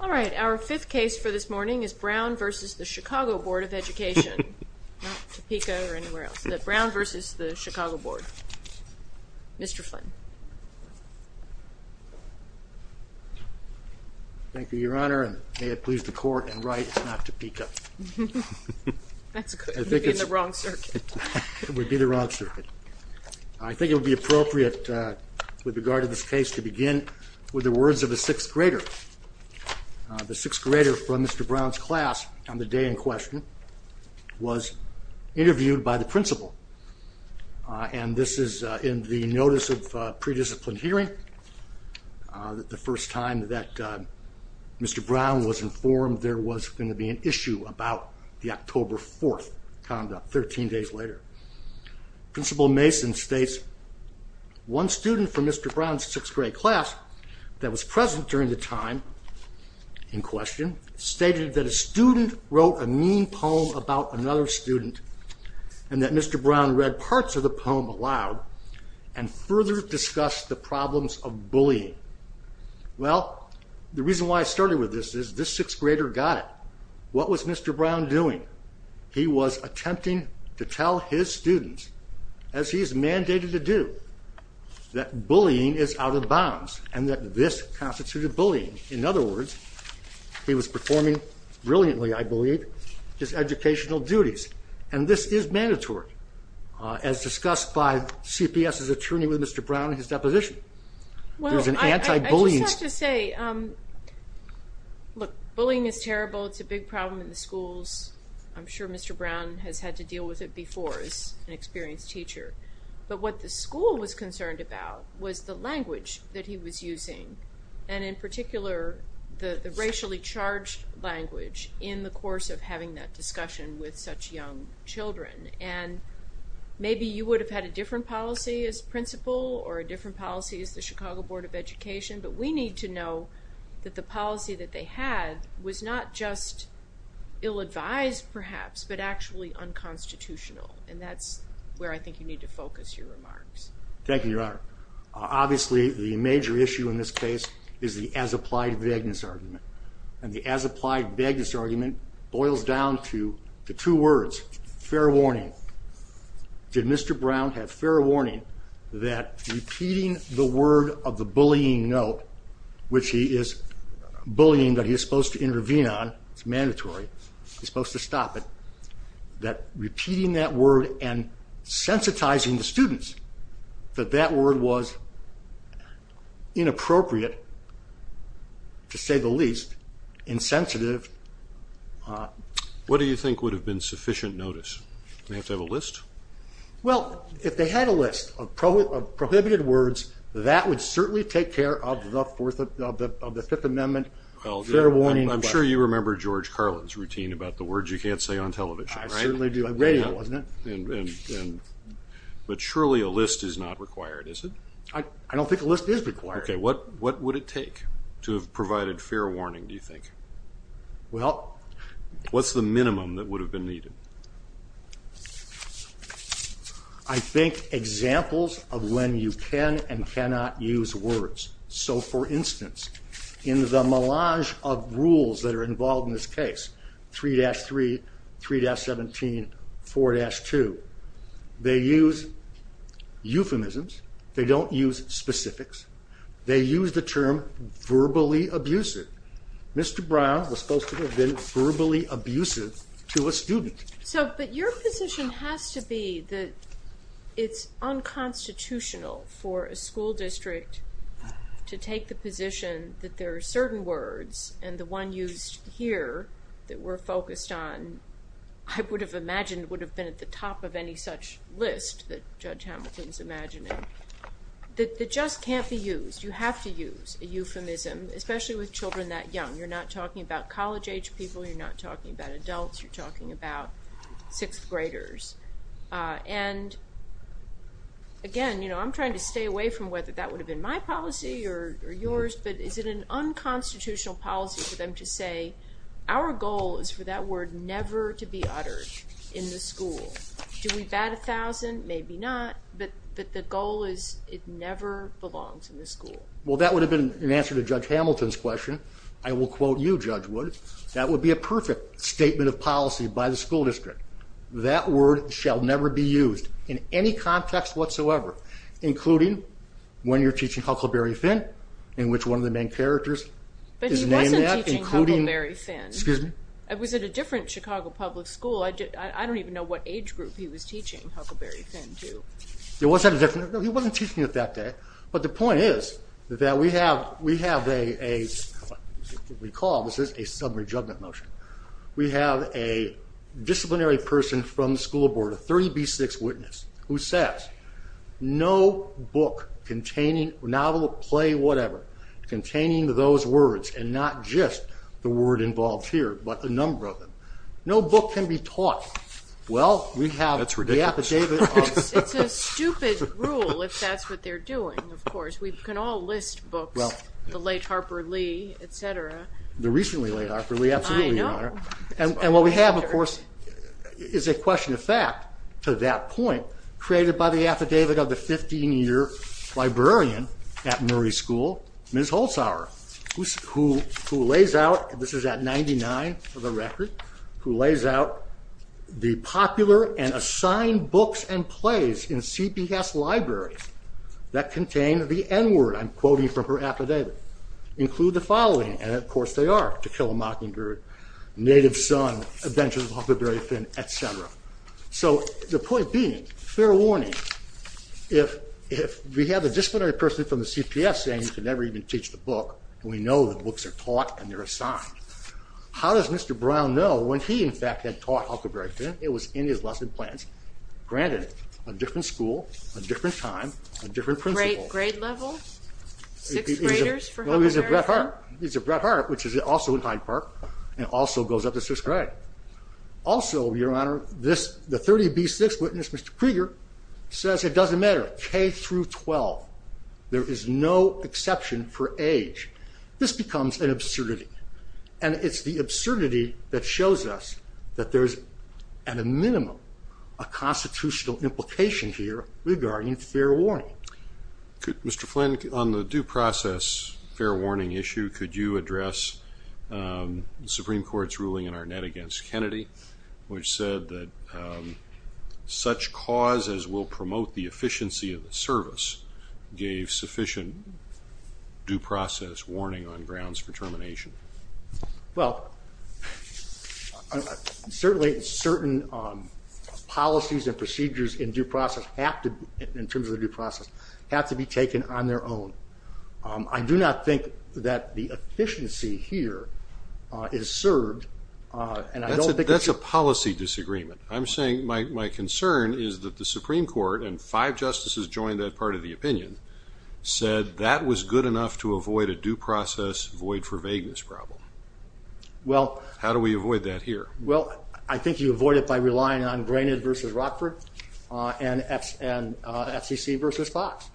All right, our fifth case for this morning is Brown v. the Chicago Board of Education. Brown v. the Chicago Board. Mr. Flynn. Thank you, Your Honor, and may it please the court and right it's not Topeka. I think it would be the wrong circuit. I think it would be appropriate with regard to this case to begin with the words of a sixth grader. The sixth grader from Mr. Brown's class on the day in question was interviewed by the principal and this is in the notice of pre-discipline hearing that the first time that Mr. Brown was informed there was going to be an issue about the October 4th conduct, 13 days later. Principal Mason states, one student from Mr. Brown's sixth grade class that was present during the time in question stated that a student wrote a mean poem about another student and that Mr. Brown read parts of the poem aloud and further discussed the problems of bullying. Well, the reason why I started with this is this sixth grader got it. What was Mr. Brown doing? He was attempting to tell his students, as he is mandated to do, that bullying is out of bounds and that this constituted bullying. In other words, he was performing brilliantly, I believe, his educational duties and this is mandatory as discussed by CPS's attorney with Mr. Brown in his deposition. Well, I have to say, look, bullying is terrible. It's a big problem in the schools. I'm sure Mr. Brown has had to deal with it before as an experienced teacher, but what the school was concerned about was the language that he was using and, in particular, the racially charged language in the course of having that discussion with such young children. And maybe you would have had a different policy as principal or a different policy as the Chicago Board of Education, but we need to know that the policy that they had was not just ill-advised, perhaps, but actually unconstitutional and that's where I think you need to focus your remarks. Thank you, Your Honor. Obviously, the major issue in this case is the as-applied vagueness argument and the as-applied vagueness argument boils down to the two words, fair warning. Did Mr. Brown have fair warning that repeating the word of the bullying note, which he is bullying that he is supposed to that repeating that word and sensitizing the students that that word was inappropriate, to say the least, insensitive? What do you think would have been sufficient notice? Do they have to have a list? Well, if they had a list of prohibited words, that would certainly take care of the Fifth Amendment, fair warning. I'm sure you remember George Carlin's routine about the words you can't say on television, right? I certainly do. I radioed it, wasn't it? But surely a list is not required, is it? I don't think a list is required. Okay, what would it take to have provided fair warning, do you think? Well... What's the minimum that would have been needed? I think examples of when you can and cannot use words. So, for instance, in the melange of rules that are involved in this case, 3-3, 3-17, 4-2, they use euphemisms, they don't use specifics, they use the term verbally abusive. Mr. Brown was supposed to have been verbally abusive to a student. So, but your position has to be that it's unconstitutional for a school district to take the position that there are certain words, and the one used here that we're focused on, I would have imagined would have been at the top of any such list that Judge Hamilton's imagining, that just can't be used. You have to use a euphemism, especially with children that young. You're not talking about college-age people, you're not talking about adults, you're talking about sixth-graders. And again, you know, I'm trying to stay away from whether that would have been my policy or yours, but is it an unconstitutional policy for them to say, our goal is for that word never to be uttered in the school. Do we bat a thousand? Maybe not, but the goal is it never belongs in the school. Well, that would have been an answer to Judge Hamilton's question. I will quote you, Judge Wood, that would be a perfect statement of policy by the school district. That word shall never be used in any context whatsoever, including when you're teaching Huckleberry Finn, in which one of the main characters is named that, including... But he wasn't teaching Huckleberry Finn. Excuse me? It was at a different Chicago public school. I don't even know what age group he was teaching Huckleberry Finn to. It was at a different... No, he wasn't teaching it that day, but the point is that we have, we have a, what we call, this is a sub-rejuvenant motion. We have a disciplinary person from the school board, a 30B6 witness, who says, no book containing, novel, play, whatever, containing those words, and not just the word involved here, but a number of them, no book can be taught. Well, we have the affidavit of... That's ridiculous. It's a stupid rule, if that's what they're doing, of course. We can all list books, the late Harper Lee, etc. I know. And what we have, of course, is a question of fact, to that point, created by the affidavit of the 15-year librarian at Murray School, Ms. Holzhauer, who lays out, this is at 99 for the record, who lays out the popular and assigned books and plays in CPS libraries that contain the N-word, I'm quoting from her affidavit, include the following, and of course they are, to kill a mockingbird, Native Son, Adventures of Huckleberry Finn, etc. So, the point being, fair warning, if we have a disciplinary person from the CPS saying you can never even teach the book, and we know the books are taught and they're assigned, how does Mr. Brown know when he, in fact, had taught Huckleberry Finn, it was in his lesson plans, granted, a different school, a different time, a different principal... He's a Bret Hart, which is also in Hyde Park, and also goes up the 6th grade. Also, Your Honor, the 30B6 witness, Mr. Krieger, says it doesn't matter, K-12, there is no exception for age. This becomes an absurdity. And it's the absurdity that shows us that there's, at a minimum, a constitutional implication here regarding fair warning. Mr. Flynn, on the due process fair warning issue, could you address the Supreme Court's ruling in Arnett against Kennedy, which said that such cause as will promote the efficiency of the service gave sufficient due process warning on grounds for termination? Well, certainly certain policies and procedures in due process have to, in terms of the due process, have to be taken on their own. I do not think that the efficiency here is served, and I don't think... That's a policy disagreement. I'm saying, my concern is that the Supreme Court, and five justices joined that part of the opinion, said that was good enough to avoid a due process void for vagueness problem. How do we avoid that here? Well, I think you avoid it by relying on Granite versus Rockford, and FCC versus Fox.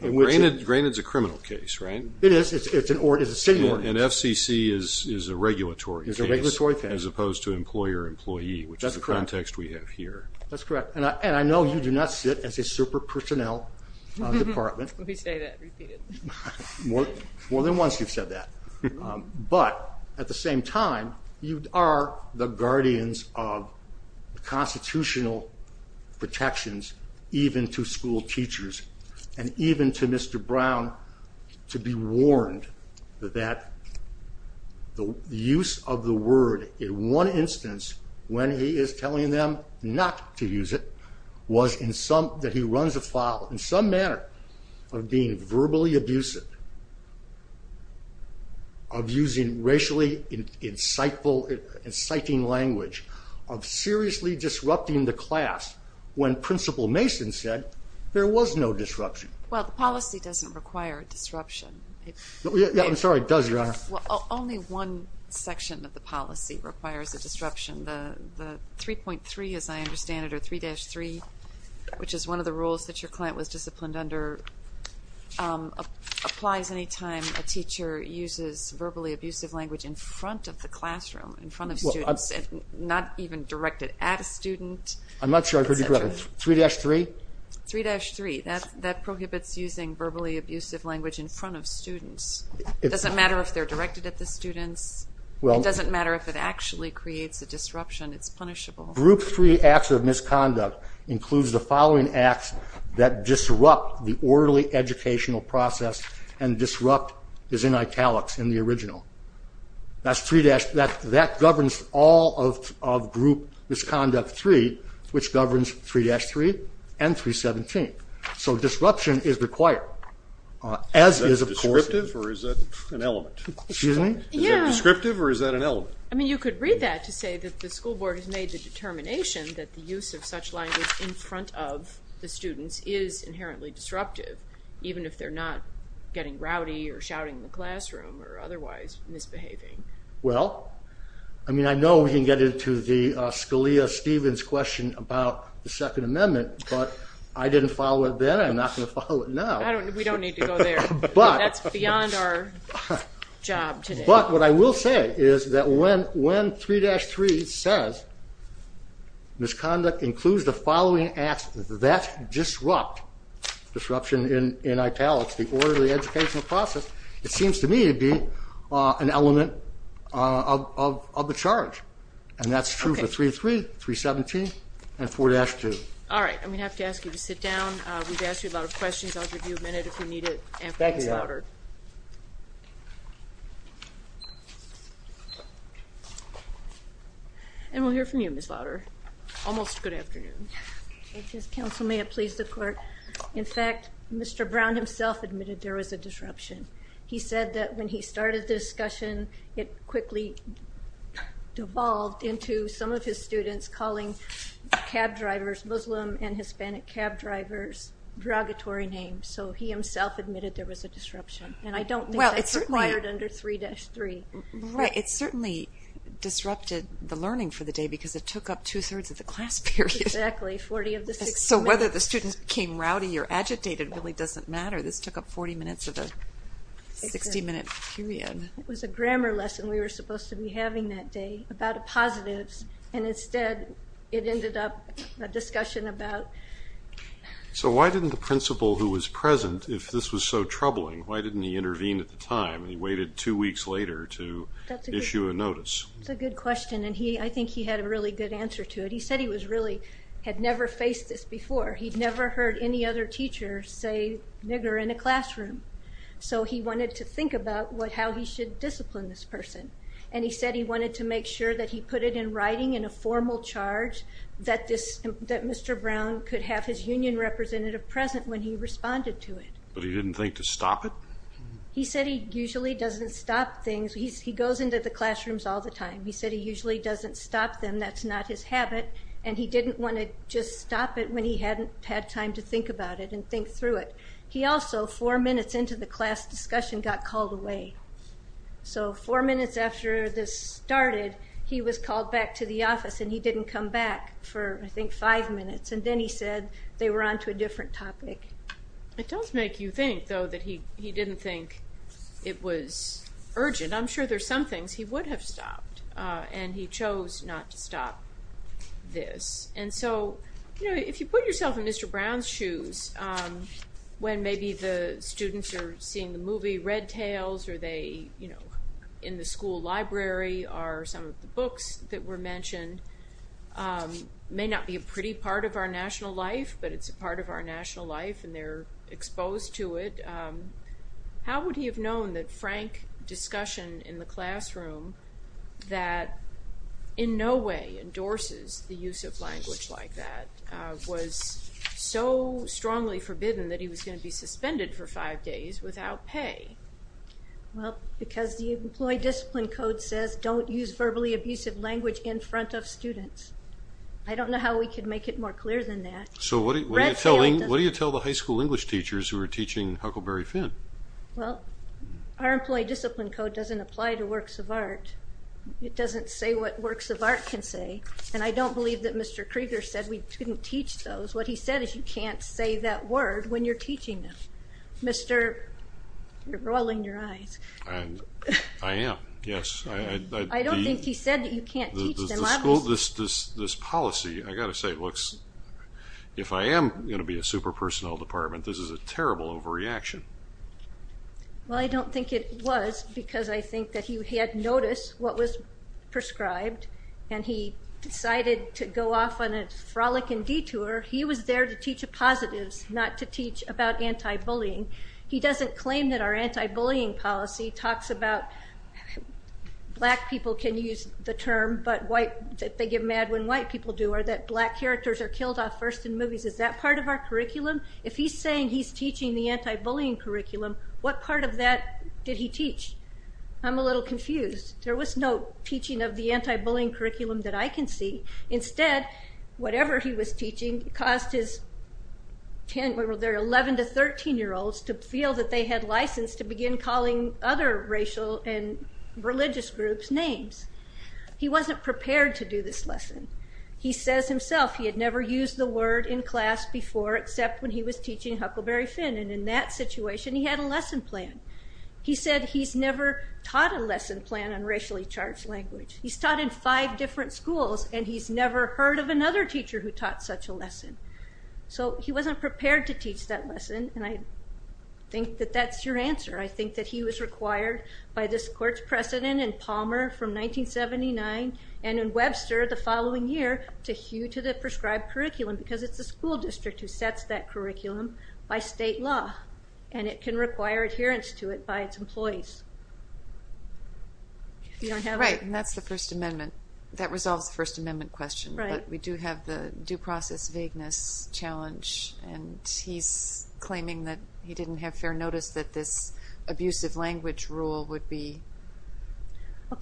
Granite is a criminal case, right? It is. It's a city order. And FCC is a regulatory case. It's a regulatory case. As opposed to employer-employee, which is the context we have here. That's correct. And I know you do not sit as a super personnel department. Let me say that repeatedly. More than once you've said that. But, at the same time, you are the guardians of constitutional protections, even to school teachers, and even to Mr. Brown, to be warned that the use of the word in one instance, when he is telling them not to use it, was in some... that he runs afoul, in some manner, of being verbally abusive, of using racially inciting language, of seriously disrupting the class, when Principal Mason said there was no disruption. Well, the policy doesn't require a disruption. I'm sorry, it does, Your Honor. Only one section of the policy requires a disruption. The 3.3, as I understand it, or 3-3, which is one of the rules that your client was disciplined under, applies any time a teacher uses verbally abusive language in front of the classroom, in front of students, and not even directed at a student. I'm not sure I heard you correctly. 3-3? 3-3. That prohibits using verbally abusive language in front of students. It doesn't matter if they're directed at the students. It doesn't matter if it actually creates a disruption. It's punishable. Group 3 acts of misconduct includes the following acts that disrupt the orderly educational process, and disrupt is in italics in the original. That governs all of Group Misconduct 3, which governs 3-3 and 3-17. So disruption is required. Is that descriptive or is that an element? Is that descriptive or is that an element? You could read that to say that the school board has made the determination that the use of such language in front of the students is inherently disruptive, even if they're not getting rowdy or shouting in the classroom or otherwise misbehaving. I know we can get into Scalia-Stevens' question about the Second Amendment, but I didn't follow it then and I'm not going to follow it now. We don't need to go there. That's beyond our job today. But what I will say is that when 3-3 says misconduct includes the following acts that disrupt, disruption in italics, the orderly educational process, it seems to me to be an element of the charge. And that's true for 3-3, 3-17, and 4-2. All right. I'm going to have to ask you to sit down. We've asked you a lot of questions. I'll give you a minute if you need it. Thank you, John. And we'll hear from you, Ms. Lowder. Almost good afternoon. Counsel, may it please the court. In fact, Mr. Brown himself admitted there was a disruption. He said that when he started the discussion, it quickly devolved into some of his students calling cab drivers Muslim and Hispanic cab drivers derogatory names. So he himself admitted there was a disruption. And I don't think that's required under 3-3. It certainly disrupted the learning for the day because it took up two-thirds of the class period. Exactly, 40 of the 60 minutes. So whether the students became rowdy or agitated really doesn't matter. This took up 40 minutes of a 60-minute period. It was a grammar lesson we were supposed to be having that day about positives. And instead, it ended up a discussion about... So why didn't the principal who was present, if this was so troubling, why didn't he intervene at the time and he waited two weeks later to issue a notice? That's a good question, and I think he had a really good answer to it. He said he really had never faced this before. He'd never heard any other teacher say nigger in a classroom. So he wanted to think about how he should discipline this person. And he said he wanted to make sure that he put it in writing in a formal charge that Mr. Brown could have his union representative present when he responded to it. But he didn't think to stop it? He said he usually doesn't stop things. He goes into the classrooms all the time. He said he usually doesn't stop them, that's not his habit. And he didn't want to just stop it when he hadn't had time to think about it and think through it. He also, four minutes into the class discussion, got called away. So four minutes after this started, he was called back to the office and he didn't come back for, I think, five minutes. And then he said they were on to a different topic. It does make you think, though, that he didn't think it was urgent. I'm sure there's some things he would have stopped, and he chose not to stop this. And so, you know, if you put yourself in Mr. Brown's shoes, when maybe the students are seeing the movie Red Tails, or they, you know, in the school library are some of the books that were mentioned, may not be a pretty part of our national life, but it's a part of our national life, and they're exposed to it. How would he have known that frank discussion in the classroom, that in no way endorses the use of language like that, was so strongly forbidden that he was going to be suspended for five days without pay? Well, because the Employee Discipline Code says don't use verbally abusive language in front of students. I don't know how we could make it more clear than that. So what do you tell the high school English teachers who are teaching Huckleberry Finn? Well, our Employee Discipline Code doesn't apply to works of art. It doesn't say what works of art can say. And I don't believe that Mr. Krieger said we couldn't teach those. What he said is you can't say that word when you're teaching them. You're rolling your eyes. I am, yes. I don't think he said that you can't teach them. This policy, I've got to say, looks... If I am going to be a super personnel department, this is a terrible overreaction. Well, I don't think it was, because I think that he had noticed what was prescribed, and he decided to go off on a frolic and detour. He was there to teach positives, not to teach about anti-bullying. He doesn't claim that our anti-bullying policy talks about... Black people can use the term, but they get mad when white people do, or that black characters are killed off first in movies. Is that part of our curriculum? If he's saying he's teaching the anti-bullying curriculum, what part of that did he teach? I'm a little confused. There was no teaching of the anti-bullying curriculum that I can see. Instead, whatever he was teaching caused his 11- to 13-year-olds to feel that they had license to begin calling other racial and religious groups names. He wasn't prepared to do this lesson. He says himself he had never used the word in class before, except when he was teaching Huckleberry Finn, and in that situation he had a lesson plan. He said he's never taught a lesson plan on racially charged language. He's taught in five different schools, and he's never heard of another teacher who taught such a lesson. He wasn't prepared to teach that lesson, and I think that that's your answer. I think that he was required by this court's precedent in Palmer from 1979 and in Webster the following year to hew to the prescribed curriculum because it's the school district who sets that curriculum by state law, and it can require adherence to it by its employees. Right, and that's the First Amendment. That resolves the First Amendment question, but we do have the due process vagueness challenge, and he's claiming that he didn't have fair notice that this abusive language rule would be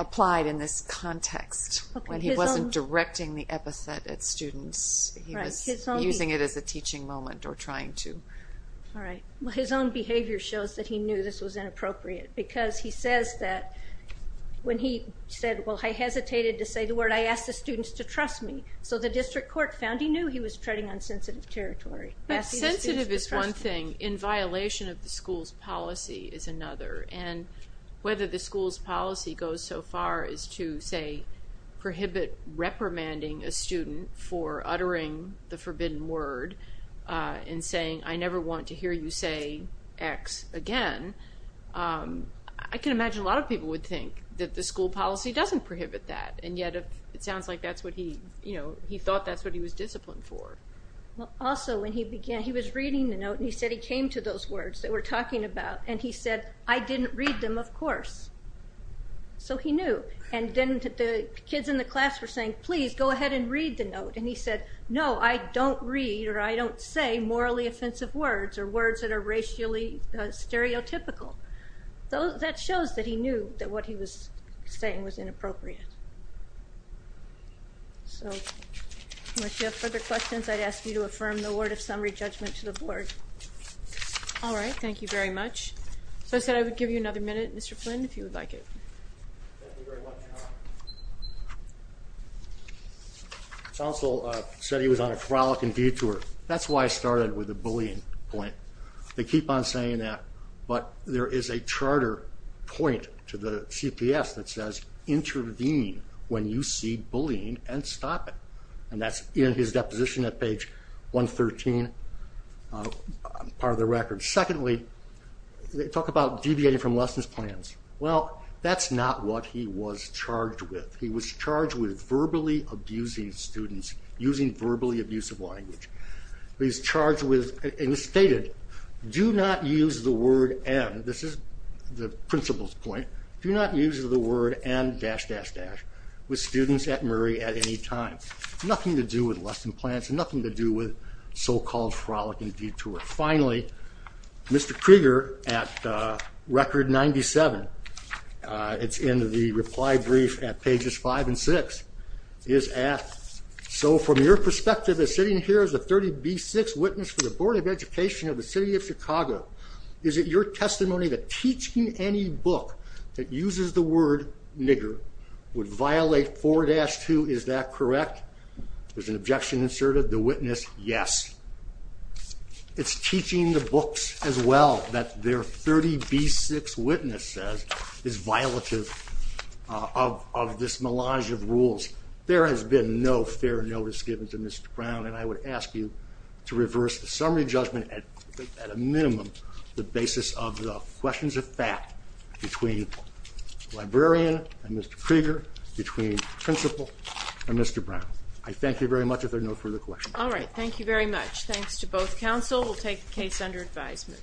applied in this context when he wasn't directing the epithet at students. He was using it as a teaching moment or trying to. All right. Well, his own behavior shows that he knew this was inappropriate because he says that when he said, well, I hesitated to say the word, I asked the students to trust me. So the district court found he knew he was treading on sensitive territory. But sensitive is one thing. In violation of the school's policy is another, and whether the school's policy goes so far as to, say, prohibit reprimanding a student for uttering the forbidden word and saying, I never want to hear you say X again, I can imagine a lot of people would think that the school policy doesn't prohibit that, and yet it sounds like that's what he, you know, he thought that's what he was disciplined for. Also, when he began, he was reading the note, and he said he came to those words that we're talking about, and he said, I didn't read them, of course. So he knew. And then the kids in the class were saying, please, go ahead and read the note. And he said, no, I don't read or I don't say morally offensive words or words that are racially stereotypical. That shows that he knew that what he was saying was inappropriate. So unless you have further questions, I'd ask you to affirm the word of summary judgment to the board. All right, thank you very much. So I said I would give you another minute, Mr. Flynn, if you would like it. Thank you very much. Counsel said he was on a frolic and detour. That's why I started with the bullying point. They keep on saying that, but there is a charter point to the CPS that says, intervene when you see bullying and stop it. And that's in his deposition at page 113, part of the record. Secondly, they talk about deviating from lessons plans. Well, that's not what he was charged with. He was charged with verbally abusing students, using verbally abusive language. He was charged with and stated, do not use the word and, this is the principal's point, do not use the word and dash, dash, dash, with students at Murray at any time. Nothing to do with lesson plans, nothing to do with so-called frolic and detour. Finally, Mr. Krieger at record 97, it's in the reply brief at pages five and six, is asked, so from your perspective as sitting here as a 30B6 witness for the Board of Education of the City of Chicago, is it your testimony that teaching any book that uses the word nigger would violate 4-2, is that correct? There's an objection inserted. The witness, yes. It's teaching the books as well that their 30B6 witness says is violative of this melange of rules. There has been no fair notice given to Mr. Brown, and I would ask you to reverse the summary judgment at a minimum, the basis of the questions of fact between the librarian and Mr. Krieger, between the principal and Mr. Brown. I thank you very much. If there are no further questions. All right. Thank you very much. Thanks to both counsel. We'll take the case under advisement.